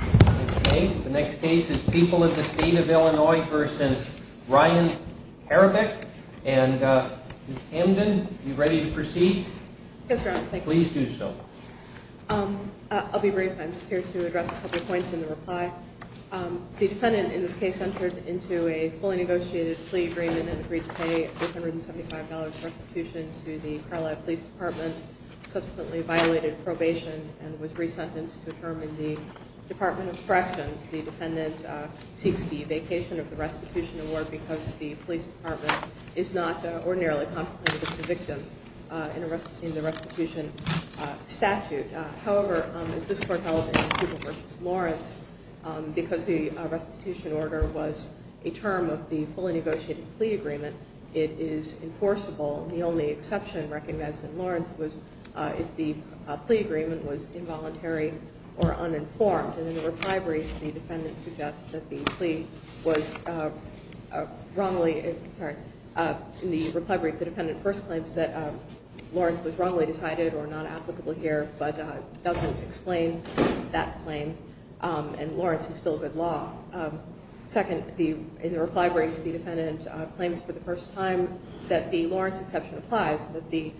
Okay, the next case is People of the State of Illinois v. Ryan Karabec. And Ms. Hamden, are you ready to proceed? Yes, Your Honor, thank you. Please do so. I'll be brief. I'm just here to address a couple of points in the reply. The defendant in this case entered into a fully negotiated plea agreement and agreed to pay a $475 prostitution to the Carlisle Police Department, subsequently violated probation and was re-sentenced to a term in the Department of Corrections. The defendant seeks the vacation of the restitution award because the police department is not ordinarily competent with conviction in the restitution statute. However, as this Court held in People v. Lawrence, because the restitution order was a term of the fully negotiated plea agreement, it is enforceable. The only exception recognized in Lawrence was if the plea agreement was involuntary or uninformed. And in the reply brief, the defendant first claims that Lawrence was wrongly decided or not applicable here, but doesn't explain that claim, and Lawrence is still good law. Second, in the reply brief, the defendant claims for the first time that the Lawrence exception applies, that the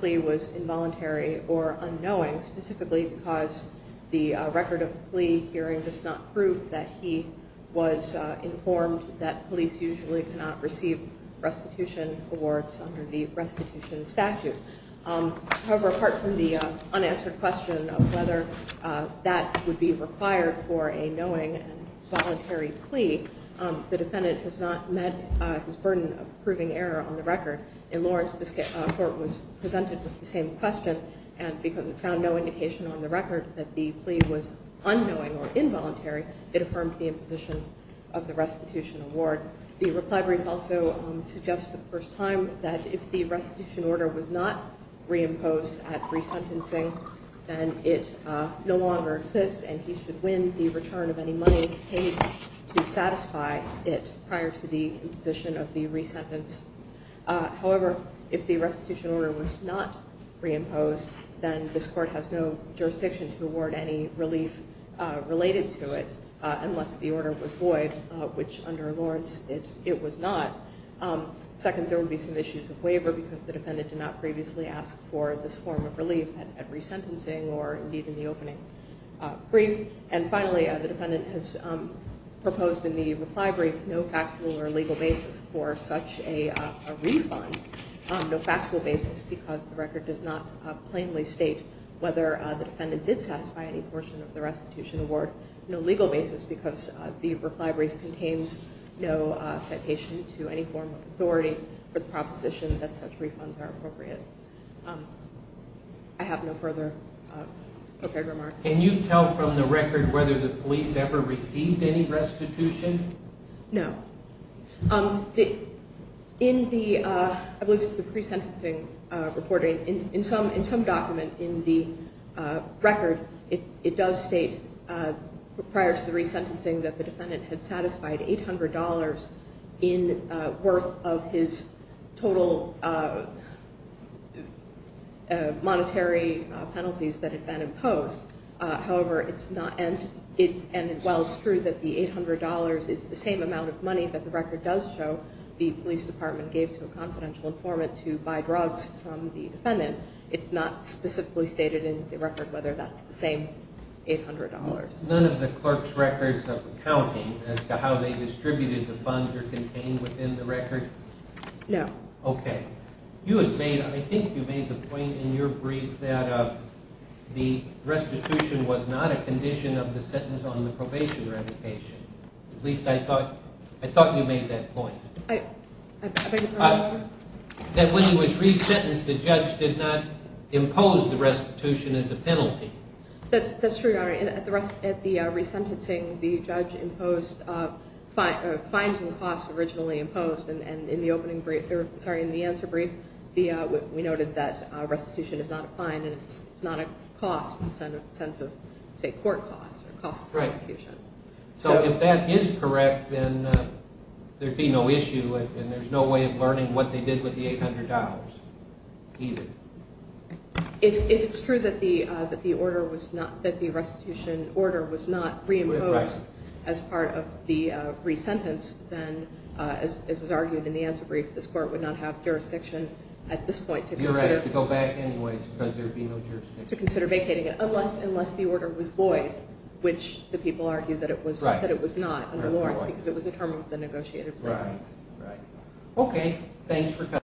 plea was involuntary or unknowing, specifically because the record of the plea hearing does not prove that he was informed that police usually cannot receive restitution awards under the restitution statute. However, apart from the unanswered question of whether that would be required for a knowing and voluntary plea, the defendant has not met his burden of proving error on the record. In Lawrence, this Court was presented with the same question, and because it found no indication on the record that the plea was unknowing or involuntary, it affirmed the imposition of the restitution award. However, the reply brief also suggests for the first time that if the restitution order was not reimposed at resentencing, then it no longer exists and he should win the return of any money paid to satisfy it prior to the imposition of the resentence. However, if the restitution order was not reimposed, then this Court has no jurisdiction to award any relief related to it unless the order was void, which under Lawrence it was not. Second, there would be some issues of waiver because the defendant did not previously ask for this form of relief at resentencing or, indeed, in the opening brief. And finally, the defendant has proposed in the reply brief no factual or legal basis for such a refund, no factual basis because the record does not plainly state whether the defendant did satisfy any portion of the restitution award, no legal basis because the reply brief contains no citation to any form of authority for the proposition that such refunds are appropriate. I have no further prepared remarks. Can you tell from the record whether the police ever received any restitution? No. In the, I believe this is the resentencing reporting, in some document in the record, it does state prior to the resentencing that the defendant had satisfied $800 in worth of his total monetary penalties that had been imposed. However, it's not, and while it's true that the $800 is the same amount of money that the record does show the police department gave to a confidential informant to buy drugs from the defendant, it's not specifically stated in the record whether that's the same $800. None of the clerk's records of accounting as to how they distributed the funds are contained within the record? No. Okay. You had made, I think you made the point in your brief that the restitution was not a condition of the sentence on the probation revocation. At least I thought you made that point. I beg your pardon? That when he was resentenced the judge did not impose the restitution as a penalty. That's true, Your Honor. At the resentencing, the judge imposed fines and costs originally imposed, and in the opening brief, sorry, in the answer brief, we noted that restitution is not a fine and it's not a cost in the sense of, say, court costs or cost of prosecution. Right. So if that is correct, then there'd be no issue and there's no way of learning what they did with the $800 either. If it's true that the order was not, that the restitution order was not reimposed as part of the resentence, then as is argued in the answer brief, this court would not have jurisdiction at this point to consider. You're right. To go back anyways because there'd be no jurisdiction. To consider vacating it unless the order was void, which the people argued that it was not under Lawrence because it was a term of the negotiated agreement. Right. Okay. Thanks for coming.